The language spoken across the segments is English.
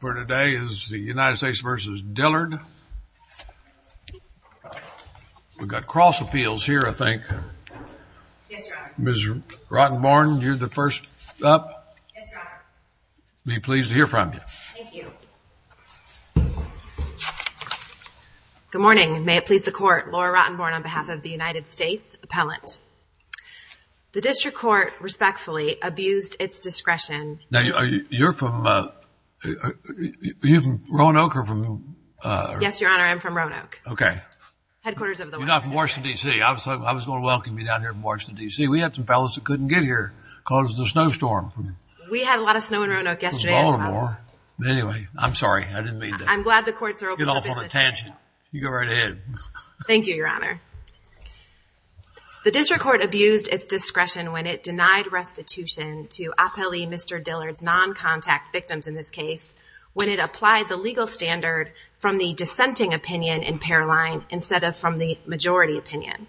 For today is the United States versus Dillard. We've got cross appeals here. I think Ms. Rottenborn, you're the first up. Be pleased to hear from you. Good morning. May it please the court. Laura Rottenborn on behalf of the United States Appellant. The district court respectfully abused its discretion. Now, you're from Roanoke or from? Yes, Your Honor. I'm from Roanoke. Okay. Headquarters of the Washington. You're not from Washington, D.C. I was going to welcome you down here from Washington, D.C. We had some fellows that couldn't get here because of the snowstorm. We had a lot of snow in Roanoke yesterday. It was Baltimore. Anyway, I'm sorry. I didn't mean to get off on a tangent. You go right ahead. Thank you, Your Honor. The district court abused its discretion when it denied restitution to Mr. Dillard's non-contact victims in this case, when it applied the legal standard from the dissenting opinion in Paroline instead of from the majority opinion.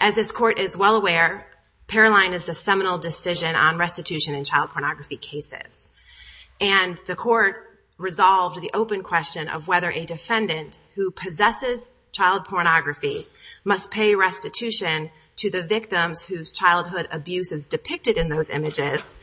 As this court is well aware, Paroline is the seminal decision on restitution in child pornography cases, and the court resolved the open question of whether a defendant who possesses child pornography must pay restitution to the victims whose childhood abuse is depicted in those images,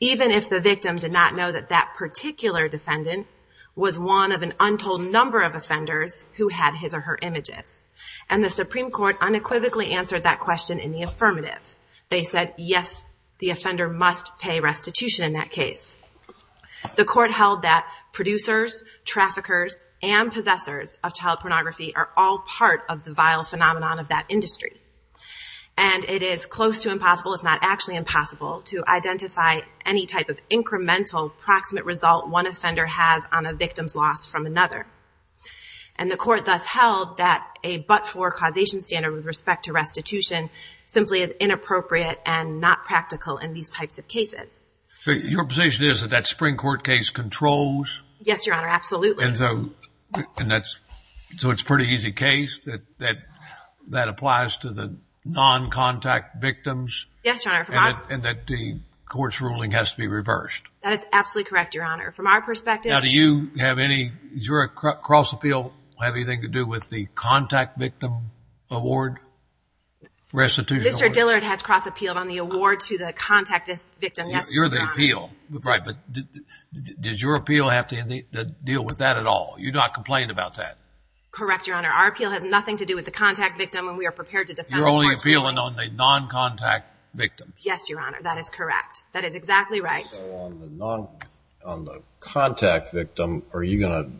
even if the victim did not know that that particular defendant was one of an untold number of offenders who had his or her images. And the Supreme Court unequivocally answered that question in the affirmative. They said, yes, the offender must pay restitution in that case. The court held that producers, traffickers, and possessors of child pornography are all part of the vile phenomenon of that industry. And it is close to impossible, if not actually impossible, to identify any type of incremental proximate result one offender has on a victim's loss from another. And the court thus held that a but-for causation standard with respect to restitution simply is inappropriate and not practical in these types of cases. So your position is that that Supreme Court case controls? Yes, Your Honor, absolutely. And so, and that's, so it's a pretty easy case that, that, that applies to the non-contact victims? Yes, Your Honor. And that the court's ruling has to be reversed? That is absolutely correct, Your Honor. From our perspective- Now, do you have any, does your cross appeal have anything to do with the contact victim award? Restitution award? Mr. Dillard has cross appealed on the award to the contact victim. Yes, Your Honor. You're the appeal. Right. But does your appeal have to deal with that at all? You're not complaining about that? Correct, Your Honor. Our appeal has nothing to do with the contact victim and we are prepared to defend the court's ruling. You're only appealing on the non-contact victim? Yes, Your Honor. That is correct. That is exactly right. So on the non, on the contact victim, are you going to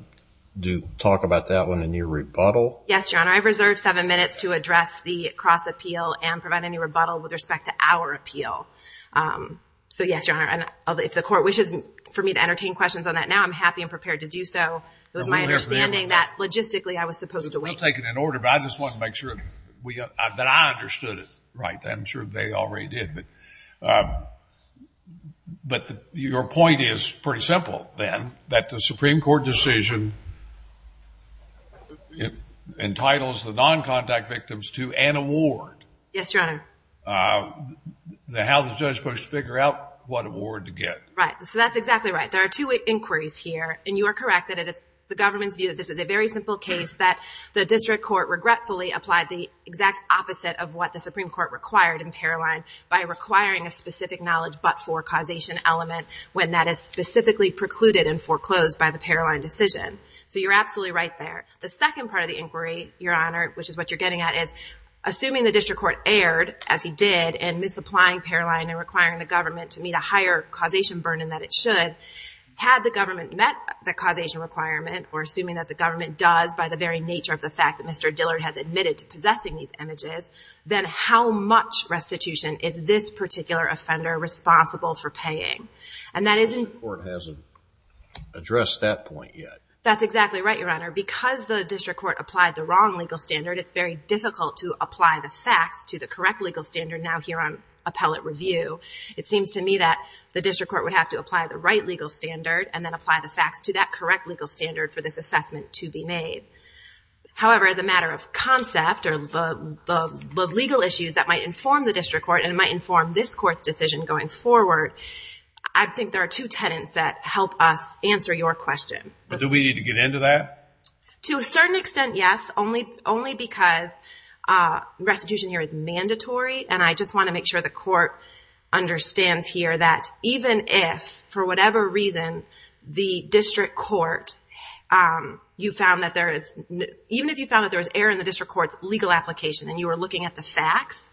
do, talk about that one in your rebuttal? Yes, Your Honor. with respect to our appeal. So yes, Your Honor. And if the court wishes for me to entertain questions on that now, I'm happy and prepared to do so. It was my understanding that logistically I was supposed to wait. I'm taking an order, but I just wanted to make sure that I understood it right. I'm sure they already did, but, but your point is pretty simple then, that the Supreme Court decision entitles the non-contact victims to an award. Yes, Your Honor. Uh, how's the judge supposed to figure out what award to get? Right. So that's exactly right. There are two inquiries here and you are correct that it is the government's view that this is a very simple case that the district court regretfully applied the exact opposite of what the Supreme Court required in Paroline by requiring a specific knowledge but for causation element when that is specifically precluded and foreclosed by the Paroline decision. So you're absolutely right there. The second part of the inquiry, Your Honor, which is what you're getting at is assuming the district court erred as he did and misapplying Paroline and requiring the government to meet a higher causation burden than it should, had the government met the causation requirement or assuming that the government does by the very nature of the fact that Mr. Dillard has admitted to possessing these images, then how much restitution is this particular offender responsible for paying? And that isn't... The district court hasn't addressed that point yet. That's exactly right, Your Honor. Because the district court applied the wrong legal standard, it's very difficult to apply the facts to the correct legal standard now here on appellate review, it seems to me that the district court would have to apply the right legal standard and then apply the facts to that correct legal standard for this assessment to be made. However, as a matter of concept or the legal issues that might inform the district court and it might inform this court's decision going forward, I think there are two tenets that help us answer your question. Do we need to get into that? To a certain extent, yes. Only because restitution here is mandatory and I just want to make sure the court understands here that even if, for whatever reason, the district court, you found that there is, even if you found that there was error in the district court's legal application and you were looking at the facts,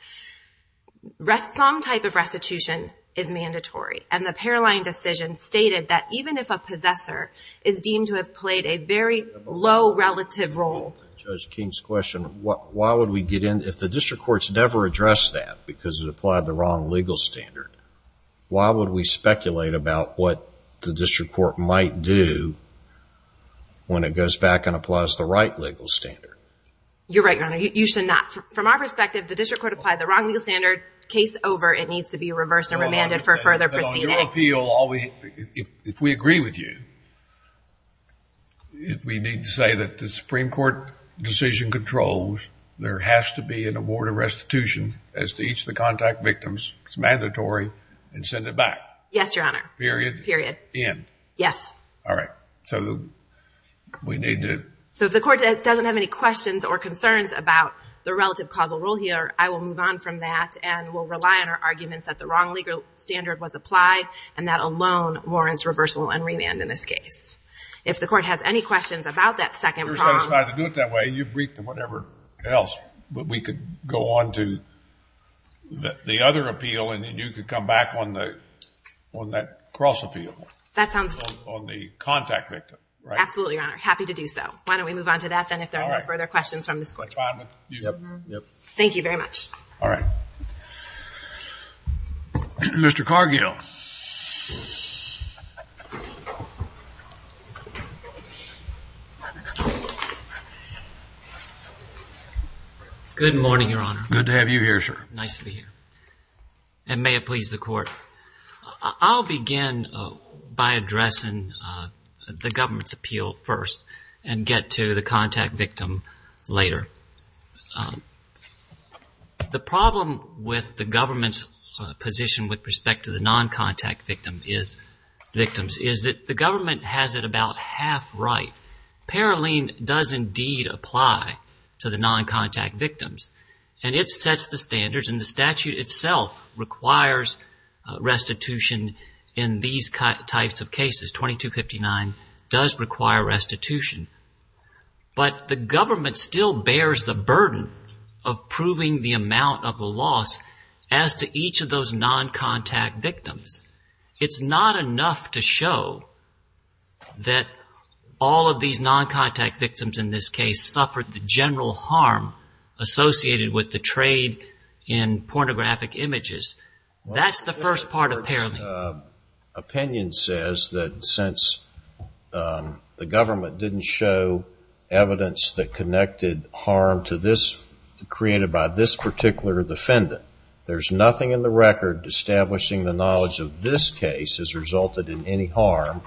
some type of restitution is mandatory. And the Paroline decision stated that even if a possessor is deemed to have a very low relative role. Judge King's question, why would we get in, if the district court's never addressed that because it applied the wrong legal standard, why would we speculate about what the district court might do when it goes back and applies the right legal standard? You're right, Your Honor. You should not. From our perspective, the district court applied the wrong legal standard. Case over. It needs to be reversed and remanded for further proceedings. Your appeal, if we agree with you, if we need to say that the Supreme Court decision controls, there has to be an award of restitution as to each of the contact victims, it's mandatory, and send it back. Yes, Your Honor. Period. Period. End. Yes. All right. So we need to... So if the court doesn't have any questions or concerns about the relative causal role here, I will move on from that and we'll rely on our opinion on whether the standard was applied and that alone warrants reversal and remand in this case. If the court has any questions about that second prong... You're satisfied to do it that way. You've briefed and whatever else, but we could go on to the other appeal and then you could come back on the, on that cross appeal on the contact victim. Absolutely, Your Honor. Happy to do so. Why don't we move on to that then if there are no further questions from this court. Thank you very much. All right. Mr. Cargill. Good morning, Your Honor. Good to have you here, sir. Nice to be here. And may it please the court. I'll begin by addressing the government's appeal first and get to the contact victim later. The problem with the government's position with respect to the non-contact victim is, victims, is that the government has it about half right. Paroline does indeed apply to the non-contact victims and it sets the standards and the statute itself requires restitution in these types of cases. 2259 does require restitution, but the government still bears the burden of proving the amount of the loss as to each of those non-contact victims. It's not enough to show that all of these non-contact victims in this case suffered the general harm associated with the trade in pornographic images. That's the first part of Paroline. The government's opinion says that since the government didn't show evidence that connected harm created by this particular defendant, there's nothing in the record establishing the knowledge of this case has resulted in any harm.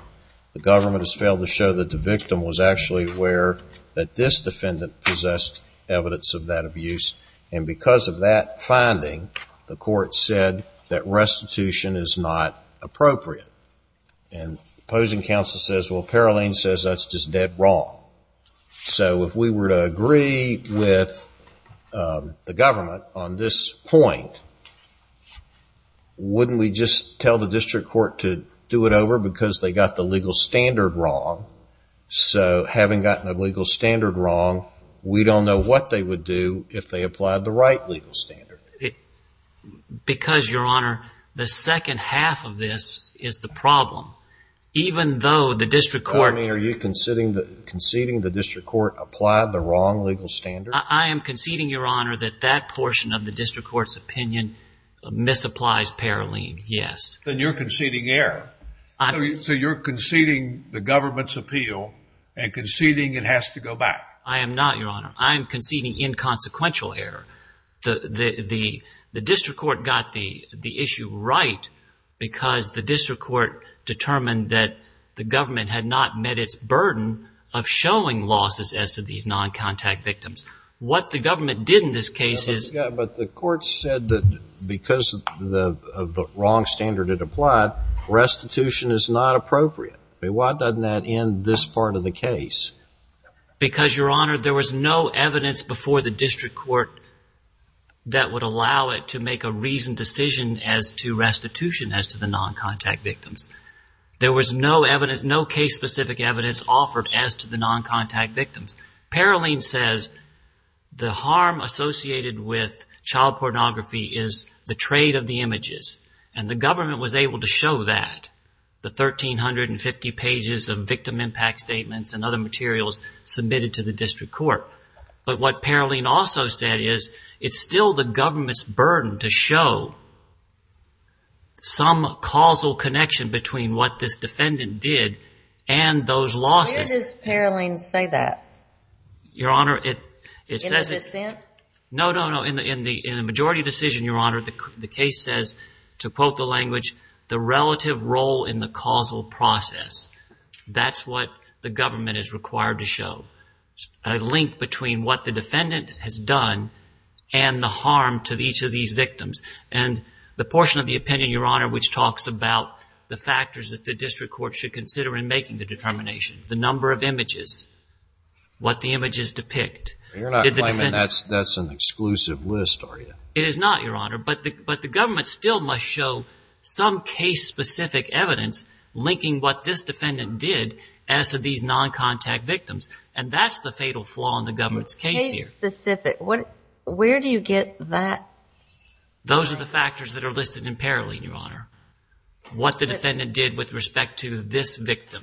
The government has failed to show that the victim was actually aware that this defendant possessed evidence of that abuse. And because of that finding, the court said that restitution is not appropriate. And opposing counsel says, well, Paroline says that's just dead wrong. So if we were to agree with the government on this point, wouldn't we just tell the district court to do it over because they got the legal standard wrong? So having gotten a legal standard wrong, we don't know what they would do if they applied the right legal standard. Because, Your Honor, the second half of this is the problem. Even though the district court- Conceding the district court applied the wrong legal standard? I am conceding, Your Honor, that that portion of the district court's opinion misapplies Paroline. Yes. Then you're conceding error. So you're conceding the government's appeal and conceding it has to go back. I am not, Your Honor. I'm conceding inconsequential error. The district court got the issue right because the district court determined that the government had not met its burden of showing losses as to these non-contact victims. What the government did in this case is- Yeah, but the court said that because of the wrong standard it applied, restitution is not appropriate. I mean, why doesn't that end this part of the case? Because, Your Honor, there was no evidence before the district court that would allow it to make a reasoned decision as to restitution as to the non-contact victims. There was no case-specific evidence offered as to the non-contact victims. Paroline says the harm associated with child pornography is the trade of the images, and the government was able to show that, the 1,350 pages of victim impact statements and other materials submitted to the district court. But what Paroline also said is it's still the government's burden to show some causal connection between what this defendant did and those losses. Where does Paroline say that? Your Honor, it says- In a dissent? No, no, no. In the majority decision, Your Honor, the case says, to quote the language, the relative role in the causal process. That's what the government is required to show, a link between what the defendant has done and the harm to each of these victims. And the portion of the opinion, Your Honor, which talks about the factors that the district court should consider in making the determination, the number of images, what the images depict. You're not claiming that's an exclusive list, are you? It is not, Your Honor, but the government still must show some case-specific evidence linking what this defendant did as to these non-contact victims, and that's the fatal flaw in the government's case here. Case-specific, where do you get that? Those are the factors that are listed in Paroline, Your Honor. What the defendant did with respect to this victim.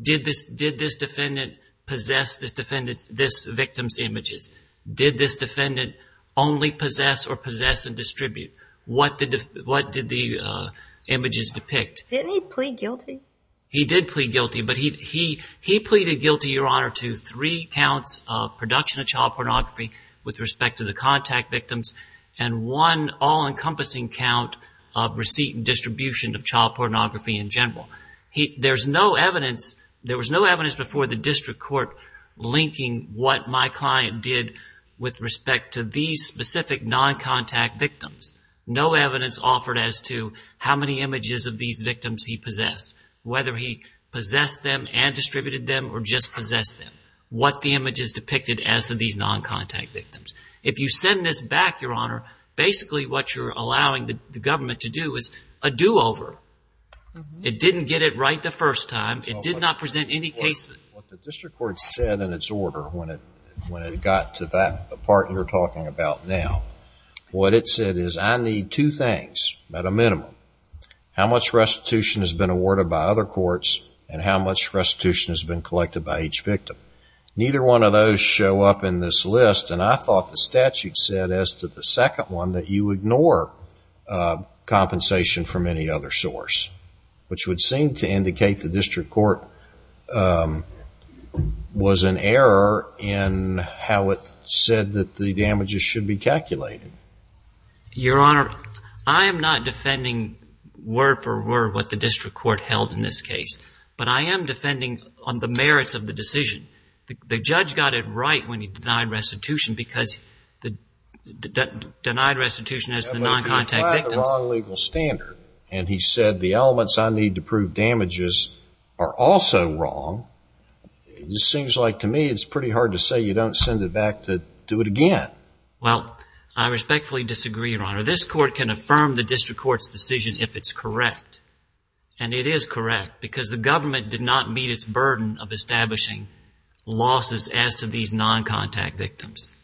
Did this defendant possess this victim's images? Did this defendant only possess or possess and distribute? What did the images depict? Didn't he plead guilty? He did plead guilty, but he pleaded guilty, Your Honor, to three counts of production of child pornography with respect to the contact victims, and one all-encompassing count of receipt and distribution of child pornography in general. There was no evidence before the district court linking what my client did with respect to these specific non-contact victims, no evidence offered as to how many images of these victims he possessed, whether he possessed them and distributed them or just possessed them, what the images depicted as to these non-contact victims. If you send this back, Your Honor, basically what you're allowing the government to do is a do-over. It didn't get it right the first time. It did not present any cases. What the district court said in its order when it got to that, the part you're talking about now, what it said is I need two things at a minimum, how much restitution has been awarded by other courts and how much restitution has been collected by each victim, neither one of those show up in this list, and I thought the statute said as to the second one that you ignore compensation from any other source, which would seem to indicate the district court was an error in how it said that the damages should be calculated. Your Honor, I am not defending word for word what the district court held in this case, but I am defending on the merits of the decision. The judge got it right when he denied restitution because the denied restitution has the non-contact victims. But if you apply the wrong legal standard and he said the elements I need to prove damages are also wrong, it just seems like to me it's pretty hard to say you don't send it back to do it again. Well, I respectfully disagree, Your Honor. This court can affirm the district court's decision if it's correct. And it is correct because the government did not meet its burden of establishing losses as to these non-contact victims.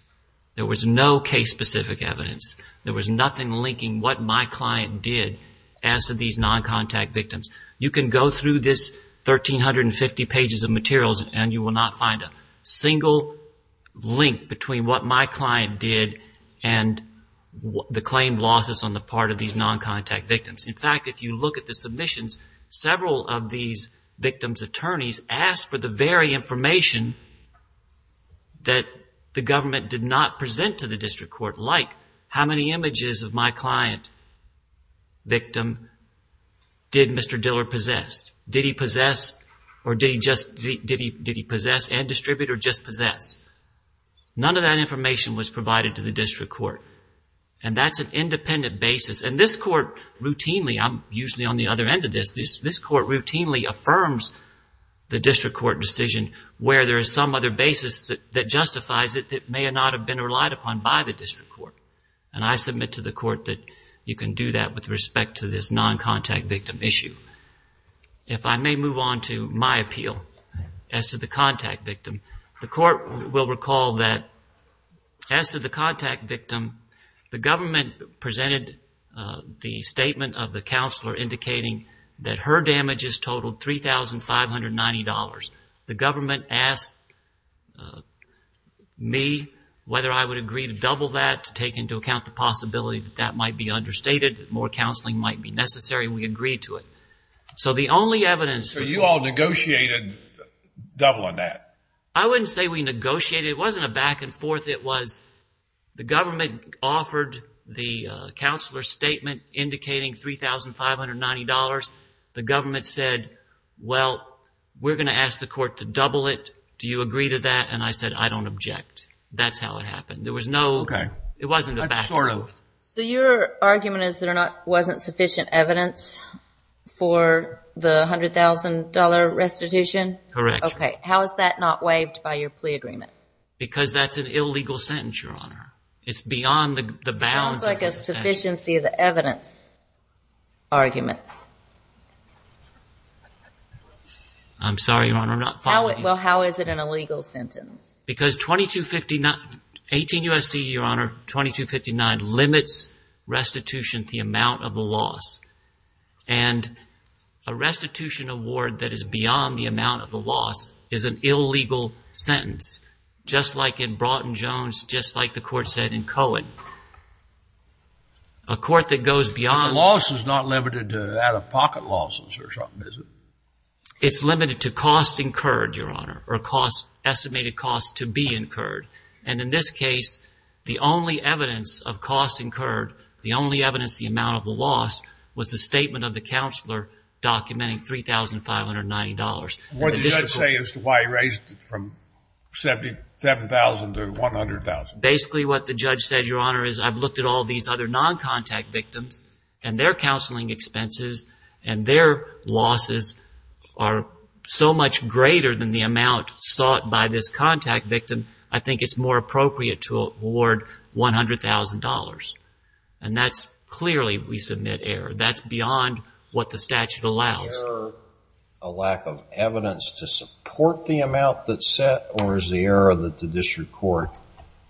There was no case-specific evidence. There was nothing linking what my client did as to these non-contact victims. You can go through this 1,350 pages of materials and you will not find a single link between what my client did and the claimed losses on the part of these non-contact victims. In fact, if you look at the submissions, several of these victims' attorneys asked for the very information that the government did not present to the district court, like how many images of my client victim did Mr. Diller possess? Did he possess or did he just, did he possess and distribute or just possess? None of that information was provided to the district court. And that's an independent basis. And this court routinely, I'm usually on the other end of this, this court routinely affirms the district court decision where there is some other basis that justifies it that may not have been relied upon by the district court. And I submit to the court that you can do that with respect to this non-contact victim issue. If I may move on to my appeal as to the contact victim, the court will recall that as to the contact victim, the government presented the statement of the totaled $3,590. The government asked me whether I would agree to double that to take into account the possibility that that might be understated, that more counseling might be necessary, and we agreed to it. So the only evidence... So you all negotiated doubling that? I wouldn't say we negotiated. It wasn't a back and forth. It was the government offered the counselor statement indicating $3,590. The government said, well, we're going to ask the court to double it. Do you agree to that? And I said, I don't object. That's how it happened. There was no, it wasn't a back and forth. So your argument is there wasn't sufficient evidence for the $100,000 restitution? Correct. Okay. How is that not waived by your plea agreement? Because that's an illegal sentence, Your Honor. It's beyond the bounds of the statute. It sounds like a sufficiency of the evidence argument. I'm sorry, Your Honor, I'm not following you. Well, how is it an illegal sentence? Because $2,259, 18 U.S.C., Your Honor, $2,259 limits restitution, the amount of the loss. And a restitution award that is beyond the amount of the loss is an illegal sentence, just like in Broughton-Jones, just like the court said in Cohen. A court that goes beyond... Out-of-pocket losses or something, is it? It's limited to cost incurred, Your Honor, or estimated cost to be incurred. And in this case, the only evidence of cost incurred, the only evidence, the amount of the loss was the statement of the counselor documenting $3,590. What did the judge say as to why he raised it from $77,000 to $100,000? Basically what the judge said, Your Honor, is I've looked at all these other non-contact victims and their counseling expenses and their losses are so much greater than the amount sought by this contact victim, I think it's more appropriate to award $100,000. And that's clearly, we submit error. That's beyond what the statute allows. Is the error a lack of evidence to support the amount that's set, or is the error that the district court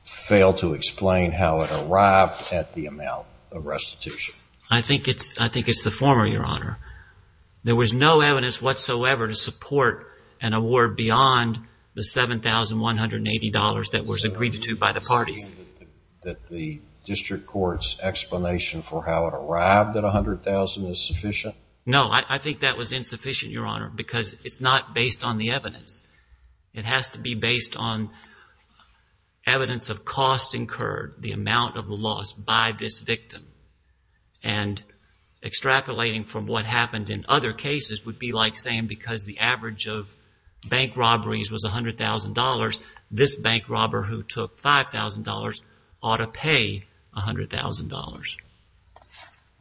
failed to explain how it arrived at the amount? Of restitution. I think it's, I think it's the former, Your Honor. There was no evidence whatsoever to support an award beyond the $7,180 that was agreed to by the parties. That the district court's explanation for how it arrived at $100,000 is sufficient? No, I think that was insufficient, Your Honor, because it's not based on the evidence. It has to be based on evidence of cost incurred, the amount of the loss by this victim, and extrapolating from what happened in other cases would be like saying, because the average of bank robberies was $100,000, this bank robber who took $5,000 ought to pay $100,000.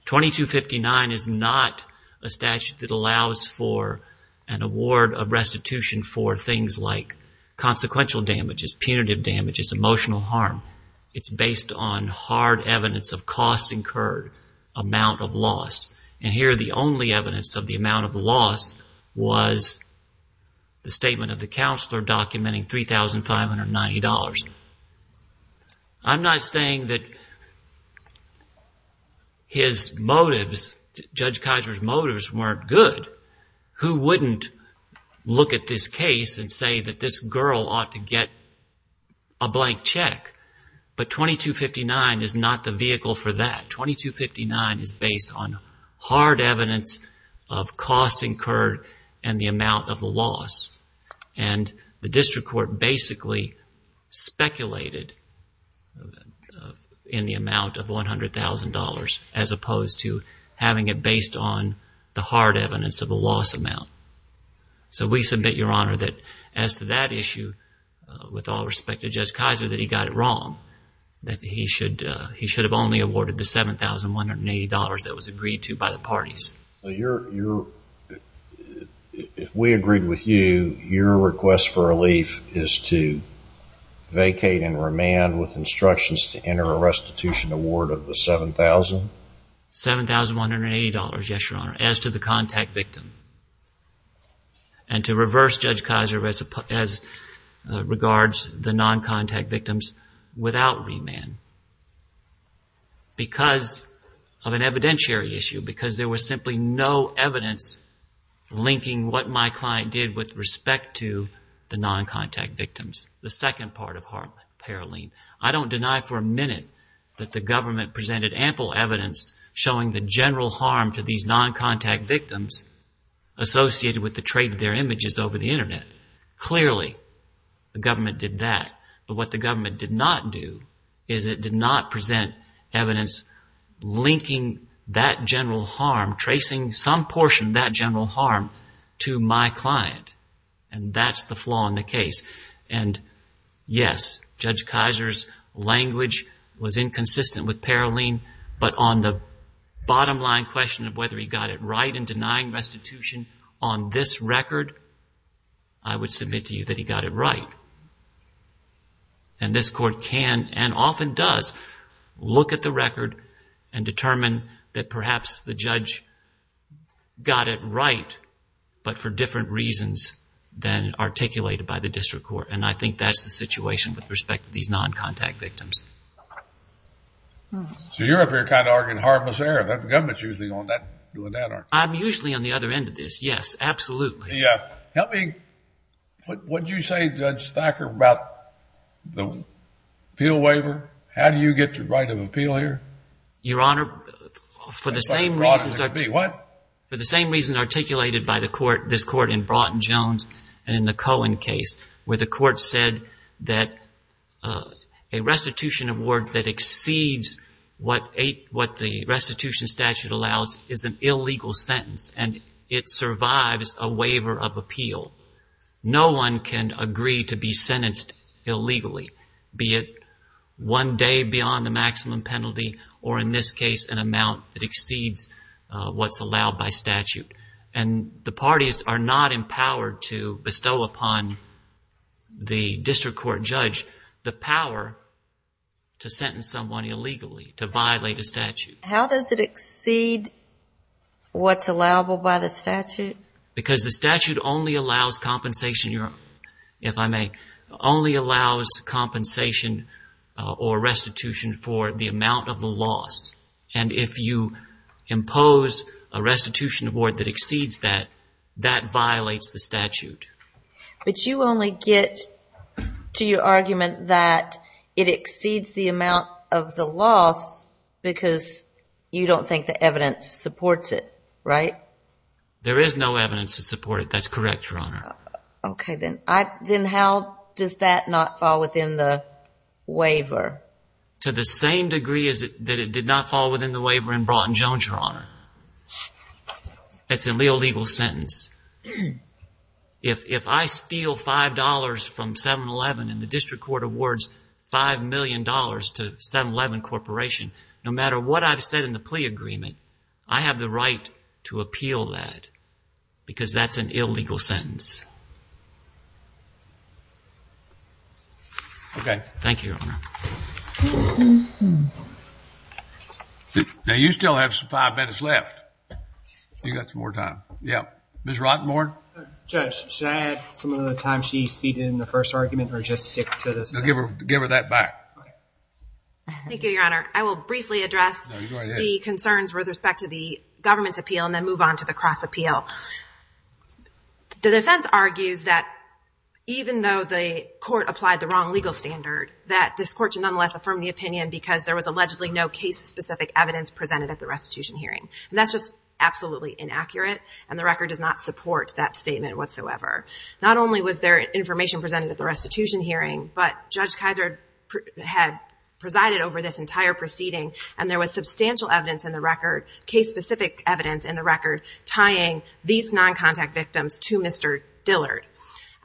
2259 is not a statute that allows for an award of restitution for things like consequential damages, punitive damages, emotional harm. It's based on hard evidence of costs incurred, amount of loss. And here, the only evidence of the amount of loss was the statement of the counselor documenting $3,590. I'm not saying that his motives, Judge Kiser's motives weren't good. Who wouldn't look at this case and say that this girl ought to get a blank check? But 2259 is not the vehicle for that. 2259 is based on hard evidence of costs incurred and the amount of the loss. And the district court basically speculated in the amount of $100,000, as opposed to having it based on the hard evidence of a loss amount. So we submit, Your Honor, that as to that issue, with all respect to Judge Kiser, that he got it wrong, that he should, he should have only awarded the $7,180 that was agreed to by the parties. Well, if we agreed with you, your request for relief is to vacate and remand with instructions to enter a restitution award of the $7,000? $7,180, Yes, Your Honor, as to the contact victim. And to reverse Judge Kiser as regards the non-contact victims without remand. Because of an evidentiary issue, because there was simply no evidence linking what my client did with respect to the non-contact victims, the second part of Harp Paroline, I don't deny for a minute that the government presented ample evidence showing the general harm to these non-contact victims associated with the trade of their images over the internet. Clearly, the government did that, but what the government did not do is it did not present evidence linking that general harm, tracing some portion of that general harm to my client. And that's the flaw in the case. And yes, Judge Kiser's language was inconsistent with Paroline, but on the bottom line question of whether he got it right in denying restitution on this record, I would submit to you that he got it right. And this court can, and often does, look at the record and determine that perhaps the judge got it right, but for different reasons than articulated by the district court. And I think that's the situation with respect to these non-contact victims. So you're up here kind of arguing harmless error. The government's usually on that, doing that, aren't they? I'm usually on the other end of this. Yes, absolutely. Yeah. Help me, what did you say, Judge Thacker, about the appeal waiver? How do you get the right of appeal here? Your Honor, for the same reasons articulated by this court in Broughton Jones and in the Cohen case, where the court said that a restitution award that exceeds what the restitution statute allows is an illegal sentence and it survives a waiver of appeal, no one can agree to be sentenced illegally, be it one day beyond the maximum penalty, or in this case, an amount that exceeds what's allowed by statute, and the parties are not empowered to bestow upon the district court judge the power to sentence someone illegally, to violate a statute. How does it exceed what's allowable by the statute? Because the statute only allows compensation, Your Honor, if I may, only allows compensation or restitution for the amount of the loss. And if you impose a restitution award that exceeds that, that violates the statute. But you only get to your argument that it exceeds the amount of the loss because you don't think the evidence supports it, right? There is no evidence to support it. That's correct, Your Honor. Okay, then how does that not fall within the waiver? To the same degree that it did not fall within the waiver in Broughton Jones, Your Honor, it's an illegal sentence. If I steal $5 from 7-Eleven and the district court awards $5 million to 7-Eleven Corporation, no matter what I've said in the plea agreement, I have the right to appeal that because that's an illegal sentence. Okay. Thank you, Your Honor. Now you still have some five minutes left. You got some more time. Yeah, Ms. Rottenborn. Judge, should I add some of the time she ceded in the first argument or just stick to this? No, give her that back. Thank you, Your Honor. I will briefly address the concerns with respect to the government's appeal and then move on to the cross appeal. The defense argues that even though the court applied the wrong legal standard, that this court should nonetheless affirm the opinion because there was allegedly no case-specific evidence presented at the restitution hearing. And that's just absolutely inaccurate. And the record does not support that statement whatsoever. Not only was there information presented at the restitution hearing, but Judge Kizer had presided over this entire proceeding and there was substantial evidence in the record, case-specific evidence in the record, tying these non-contact victims to Mr. Dillard.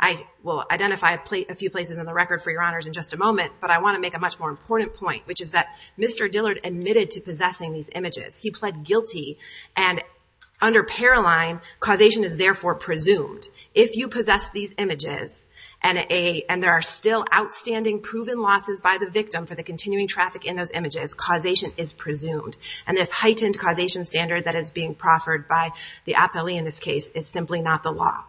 I will identify a few places in the record for Your Honors in just a moment, but I want to make a much more important point, which is that Mr. Dillard admitted to possessing these images. He pled guilty and under Paroline, causation is therefore presumed. If you possess these images and there are still outstanding proven losses by the victim for the continuing traffic in those images, causation is presumed. And this heightened causation standard that is being proffered by the appellee in this case is simply not the law.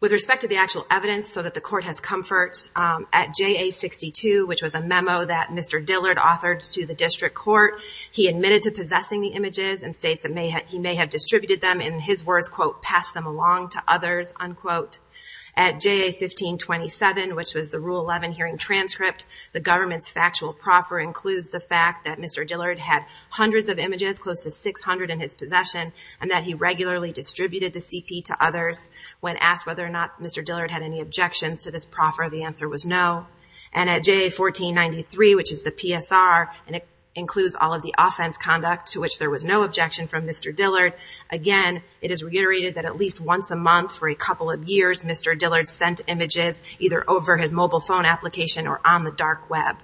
With respect to the actual evidence so that the court has comfort, at JA62, which was a memo that Mr. Dillard admitted to possessing the images and states that he may have distributed them, in his words, quote, pass them along to others, unquote. At JA1527, which was the Rule 11 hearing transcript, the government's factual proffer includes the fact that Mr. Dillard had hundreds of images, close to 600 in his possession, and that he regularly distributed the CP to others. When asked whether or not Mr. Dillard had any objections to this proffer, the answer was no. And at JA1493, which is the PSR, and it includes all of the offense conduct to which there was no objection from Mr. Dillard, again, it is reiterated that at least once a month for a couple of years, Mr. Dillard sent images either over his mobile phone application or on the dark web.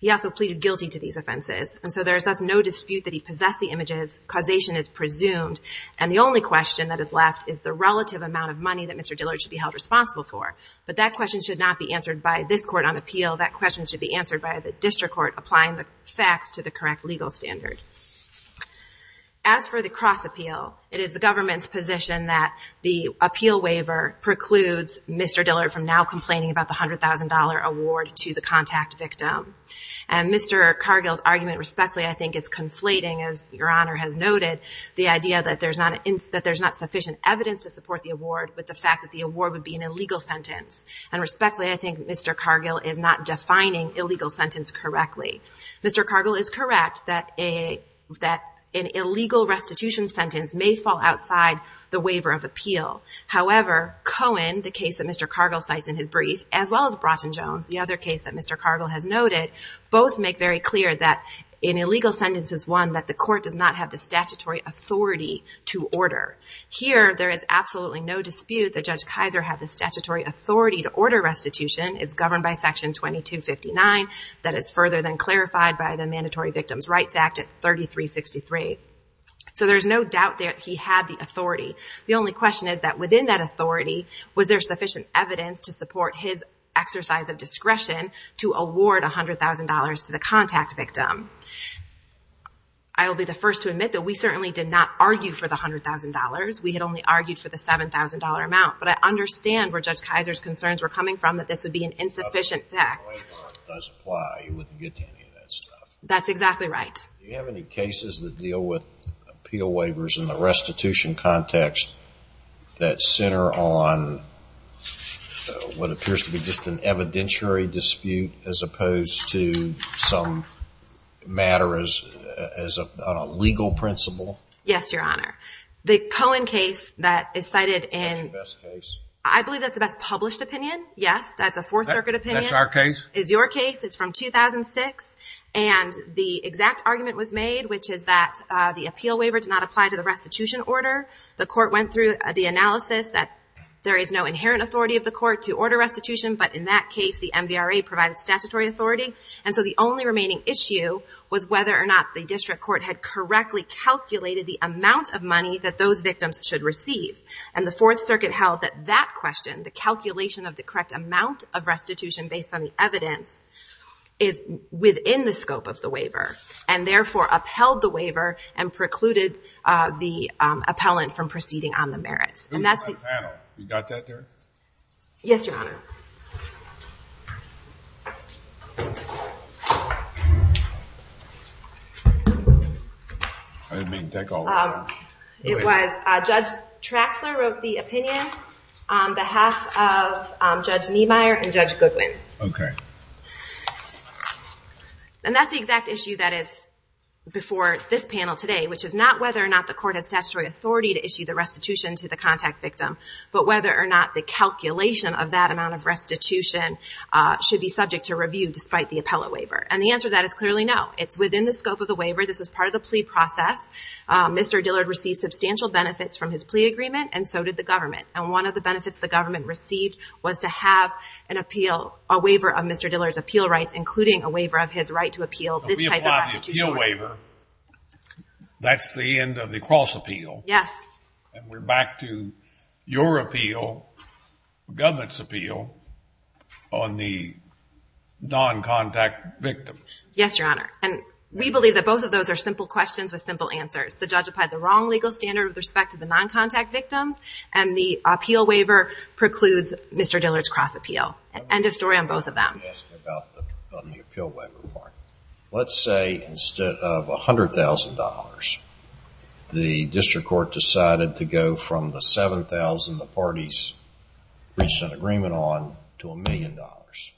He also pleaded guilty to these offenses. And so there is thus no dispute that he possessed the images, causation is presumed, and the only question that is left is the relative amount of money that Mr. Dillard should be held responsible for. But that question should not be answered by this court on appeal. That question should be answered by the district court applying the facts to the correct legal standard. As for the cross appeal, it is the government's position that the appeal waiver precludes Mr. Dillard from now complaining about the $100,000 award to the contact victim. And Mr. Cargill's argument, respectfully, I think is conflating, as Your Honor has noted, the idea that there's not sufficient evidence to support the award with the fact that the award would be an illegal sentence. And respectfully, I think Mr. Cargill is not defining illegal sentence correctly. Mr. Cargill is correct that an illegal restitution sentence may fall outside the waiver of appeal. However, Cohen, the case that Mr. Cargill cites in his brief, as well as Broughton-Jones, the other case that Mr. Cargill has noted, both make very clear that an illegal sentence is one that the court does not have the statutory authority to order. Here, there is absolutely no dispute that Judge Kaiser had the statutory authority to order restitution. It's governed by Section 2259. That is further than clarified by the Mandatory Victims' Rights Act at 3363. So there's no doubt that he had the authority. The only question is that within that authority, was there sufficient evidence to support his exercise of discretion to award $100,000 to the contact victim? I will be the first to admit that we certainly did not argue for the $100,000. We had only argued for the $7,000 amount. But I understand where Judge Kaiser's concerns were coming from, that this would be an insufficient fact. That's exactly right. Do you have any cases that deal with appeal waivers in the restitution context that center on what appears to be just an evidentiary dispute as opposed to some matter as a legal principle? Yes, Your Honor. The Cohen case that is cited in... That's the best case. I believe that's the best published opinion. Yes, that's a Fourth Circuit opinion. That's our case? It's your case. It's from 2006. And the exact argument was made, which is that the appeal waiver did not apply to the restitution order. The court went through the analysis that there is no inherent authority of the court to order restitution. But in that case, the MVRA provided statutory authority. And so the only remaining issue was whether or not the district court had correctly calculated the amount of money that those victims should receive. And the Fourth Circuit held that that question, the calculation of the correct amount of restitution based on the evidence, is within the scope of the waiver and therefore upheld the waiver and precluded the appellant from proceeding on the merits. And that's the... Who's on the panel? You got that there? Yes, Your Honor. I didn't mean to take all of that. It was Judge Traxler wrote the opinion on behalf of Judge Niemeyer and Judge Goodwin. Okay. And that's the exact issue that is before this panel today, which is not whether or not the court has statutory authority to issue the restitution to the contact victim, but whether or not the calculation of that amount of restitution should be subject to review despite the appellate waiver. And the answer to that is clearly no. It's within the scope of the waiver. This was part of the plea process. Mr. Dillard received substantial benefits from his plea agreement and so did the government. And one of the benefits the government received was to have an appeal, a waiver of Mr. Dillard's appeal rights, including a waiver of his right to appeal this type of restitution. If we apply the appeal waiver, that's the end of the cross appeal. Yes. And we're back to your appeal, the government's appeal, on the non-contact victims. Yes, Your Honor. And we believe that both of those are simple questions with simple answers. The judge applied the wrong legal standard with respect to the non-contact victims and the appeal waiver precludes Mr. Dillard's cross appeal. End of story on both of them. Let's say instead of a hundred thousand dollars, the district court decided to go from the 7,000 the parties reached an agreement on to a million dollars.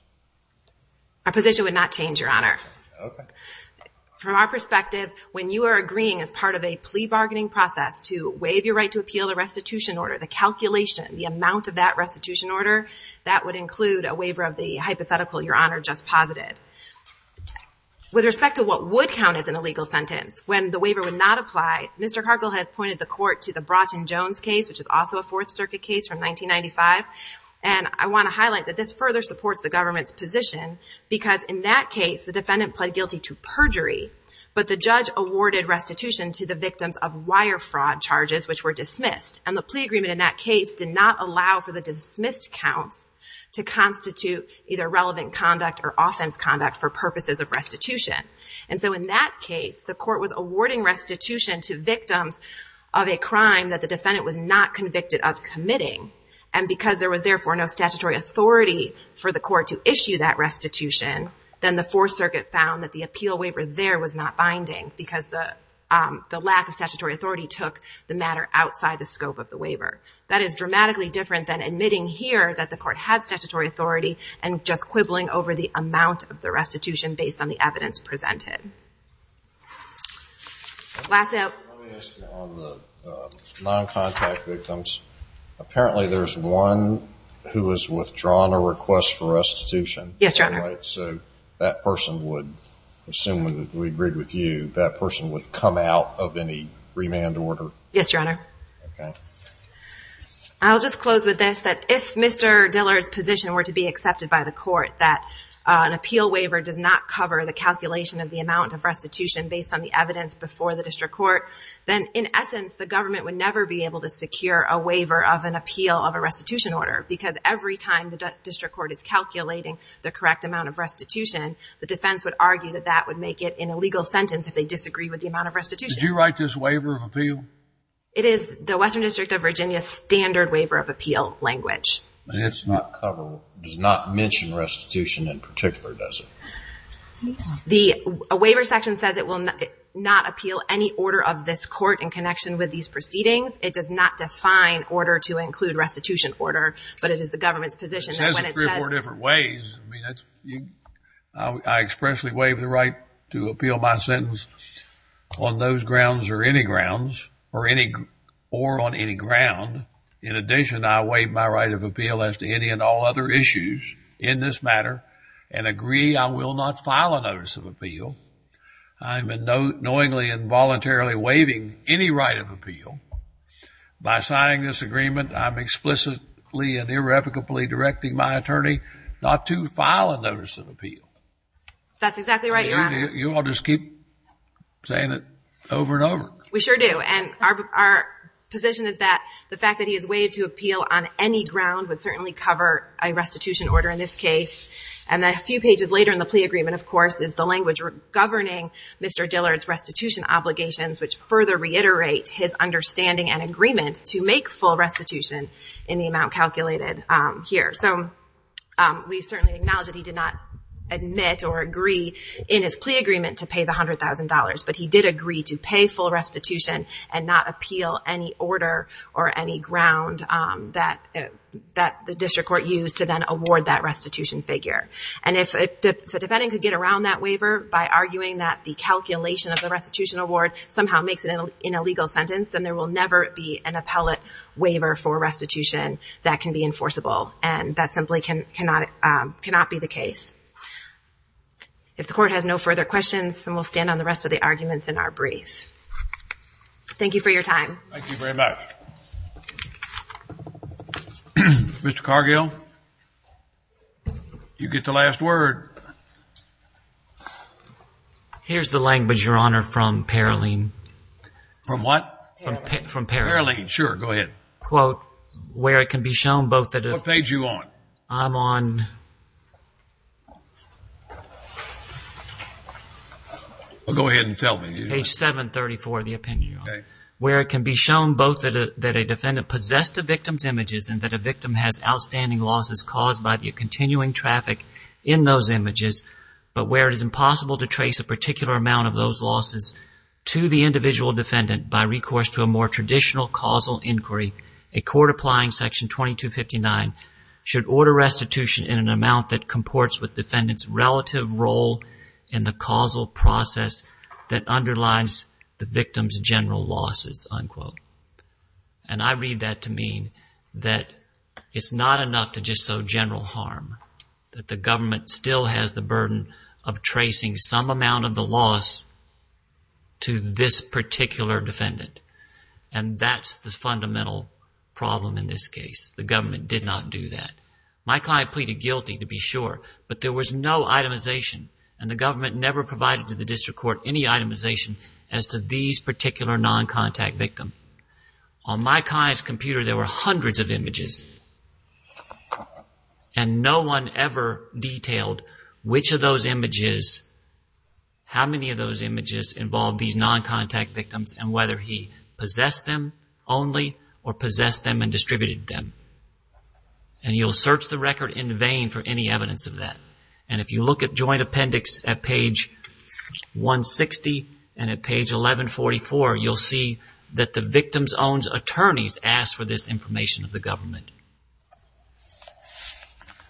Our position would not change, Your Honor. From our perspective, when you are agreeing as part of a plea bargaining process to waive your right to appeal the restitution order, the calculation, the amount of that restitution order, that would include a waiver of the hypothetical Your Honor just posited. With respect to what would count as an illegal sentence when the waiver would not apply, Mr. Cargill has pointed the court to the Broughton Jones case, which is also a fourth circuit case from 1995. And I want to highlight that this further supports the government's position because in that case, the defendant pled guilty to perjury, but the judge awarded restitution to the victims of wire fraud charges, which were dismissed. And the plea agreement in that case did not allow for the dismissed counts to constitute either relevant conduct or offense conduct for purposes of restitution. And so in that case, the court was awarding restitution to victims of a crime that the defendant was not convicted of committing. And because there was therefore no statutory authority for the court to issue restitution, then the fourth circuit found that the appeal waiver there was not binding because the, um, the lack of statutory authority took the matter outside the scope of the waiver. That is dramatically different than admitting here that the court had statutory authority and just quibbling over the amount of the restitution based on the evidence presented. Last out. Let me ask you on the non-contact victims. Apparently there's one who has withdrawn a request for restitution. Yes, Your Honor. So that person would assume that we agreed with you, that person would come out of any remand order. Yes, Your Honor. I'll just close with this, that if Mr. Diller's position were to be accepted by the court, that an appeal waiver does not cover the calculation of the amount of restitution based on the evidence before the district court, then in essence, the government would never be able to secure a waiver of an appeal of a restitution order because every time the district court says it does not cover the correct amount of restitution, the defense would argue that that would make it an illegal sentence if they disagree with the amount of restitution. Did you write this waiver of appeal? It is the Western District of Virginia standard waiver of appeal language. It's not coverable, does not mention restitution in particular, does it? The waiver section says it will not appeal any order of this court in connection with these proceedings. It does not define order to include restitution order, but it is the government's position that when it says. Four different ways. I mean, I expressly waive the right to appeal my sentence on those grounds or any grounds or on any ground. In addition, I waive my right of appeal as to any and all other issues in this matter and agree I will not file a notice of appeal, I'm knowingly and voluntarily waiving any right of appeal. By signing this agreement, I'm explicitly and irrevocably directing my attorney not to file a notice of appeal. That's exactly right, Your Honor. You all just keep saying it over and over. We sure do. And our position is that the fact that he has waived to appeal on any ground would certainly cover a restitution order in this case. And then a few pages later in the plea agreement, of course, is the language governing Mr. Dillard's restitution obligations, which further reiterate his understanding and agreement to make full restitution in the amount calculated here. So we certainly acknowledge that he did not admit or agree in his plea agreement to pay the $100,000, but he did agree to pay full restitution and not appeal any order or any ground that the district court used to then award that restitution figure. And if a defendant could get around that waiver by arguing that the calculation of the restitution award somehow makes it in a legal sentence, then there will never be an appellate waiver for restitution that can be enforceable, and that simply cannot be the case. If the court has no further questions, then we'll stand on the rest of the arguments in our brief. Thank you for your time. Thank you very much. Mr. Cargill, you get the last word. Here's the language, Your Honor, from Paroline. From what? From Paroline. Sure. Go ahead. Quote, where it can be shown both that... What page are you on? I'm on... Well, go ahead and tell me. Page 734 of the opinion, Your Honor, where it can be shown both that a defendant possessed the victim's images and that a victim has outstanding losses caused by the continuing traffic in those images, but where it is impossible to trace a particular amount of those losses to the individual defendant by recourse to a more traditional causal inquiry, a court applying Section 2259 should order restitution in an amount that comports with defendant's relative role in the causal process that underlines the victim's general losses, unquote. And I read that to mean that it's not enough to just show general harm, that the government still has the burden of tracing some amount of the loss to this particular defendant, and that's the fundamental problem in this case. The government did not do that. My client pleaded guilty to be sure, but there was no itemization and the government never provided to the district court any itemization as to these particular non-contact victim. On my client's computer, there were hundreds of images and no one ever detailed which of those images, how many of those images involved these non-contact victims and whether he possessed them only or possessed them and distributed them. And you'll search the record in vain for any evidence of that. And if you look at joint appendix at page 160 and at page 1144, you'll see that the victim's own attorney's asked for this information of the government,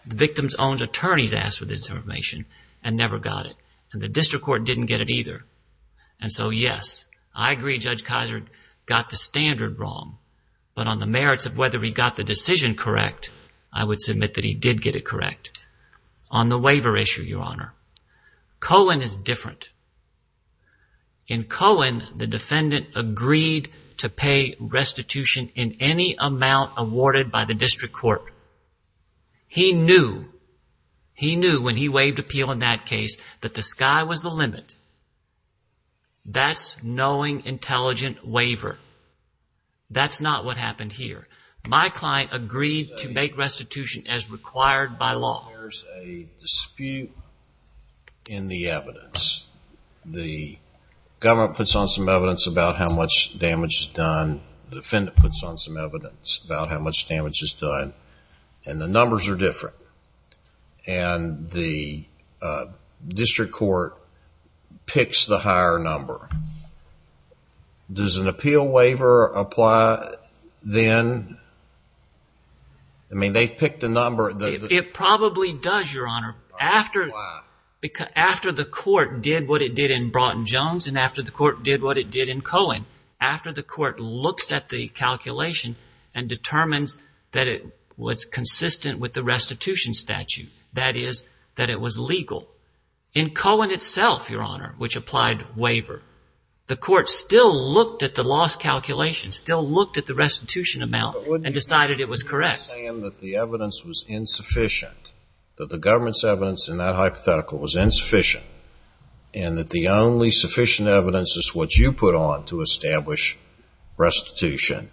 the victim's own attorney's asked for this information and never got it and the district court didn't get it either. And so, yes, I agree Judge Kizer got the standard wrong, but on the merits of whether he got the decision correct, I would submit that he did get it correct. On the waiver issue, Your Honor, Cohen is different. In Cohen, the defendant agreed to pay restitution in any amount awarded by the district court. He knew, he knew when he waived appeal in that case that the sky was the limit. That's knowing intelligent waiver. That's not what happened here. My client agreed to make restitution as required by law. There's a dispute in the evidence. The government puts on some evidence about how much damage is done. The defendant puts on some evidence about how much damage is done and the numbers are different. And the district court picks the higher number. Does an appeal waiver apply then? I mean, they picked a number. It probably does, Your Honor. After the court did what it did in Broughton-Jones and after the court did what it did in Cohen, after the court looks at the calculation and that is that it was legal. In Cohen itself, Your Honor, which applied waiver, the court still looked at the loss calculation, still looked at the restitution amount and decided it was correct. But wouldn't you be saying that the evidence was insufficient, that the government's evidence in that hypothetical was insufficient, and that the only sufficient evidence is what you put on to establish restitution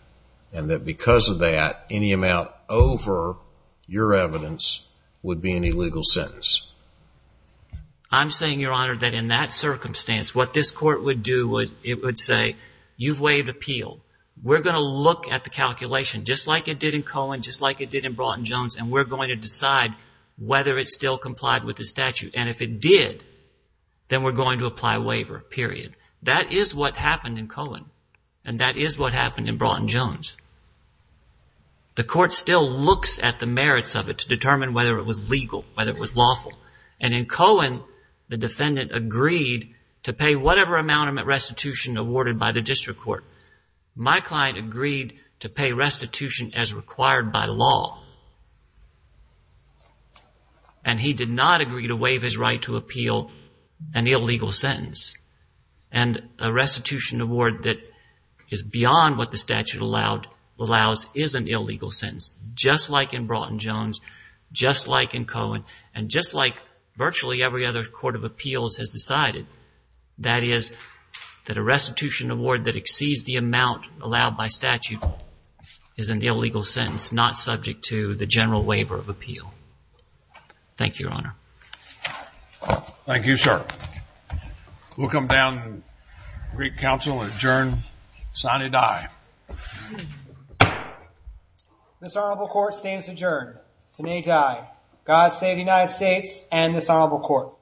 and that because of that, any amount over your evidence would be an illegal sentence? I'm saying, Your Honor, that in that circumstance, what this court would do was it would say, you've waived appeal. We're going to look at the calculation just like it did in Cohen, just like it did in Broughton-Jones, and we're going to decide whether it still complied with the statute. And if it did, then we're going to apply waiver, period. That is what happened in Cohen, and that is what happened in Broughton-Jones. The court still looks at the merits of it to determine whether it was legal, whether it was lawful, and in Cohen, the defendant agreed to pay whatever amount of restitution awarded by the district court. My client agreed to pay restitution as required by law, and he did not agree to waive his right to appeal an illegal sentence. And a restitution award that is beyond what the statute allows is an illegal sentence, just like in Broughton-Jones, just like in Cohen, and just like virtually every other court of appeals has decided, that is that a restitution award that exceeds the amount allowed by statute is an illegal sentence, not subject to the general waiver of appeal. Thank you, Your Honor. Thank you, sir. We'll come down and greet counsel and adjourn. Sine die. This honorable court stands adjourned. Sine die. God save the United States and this honorable court.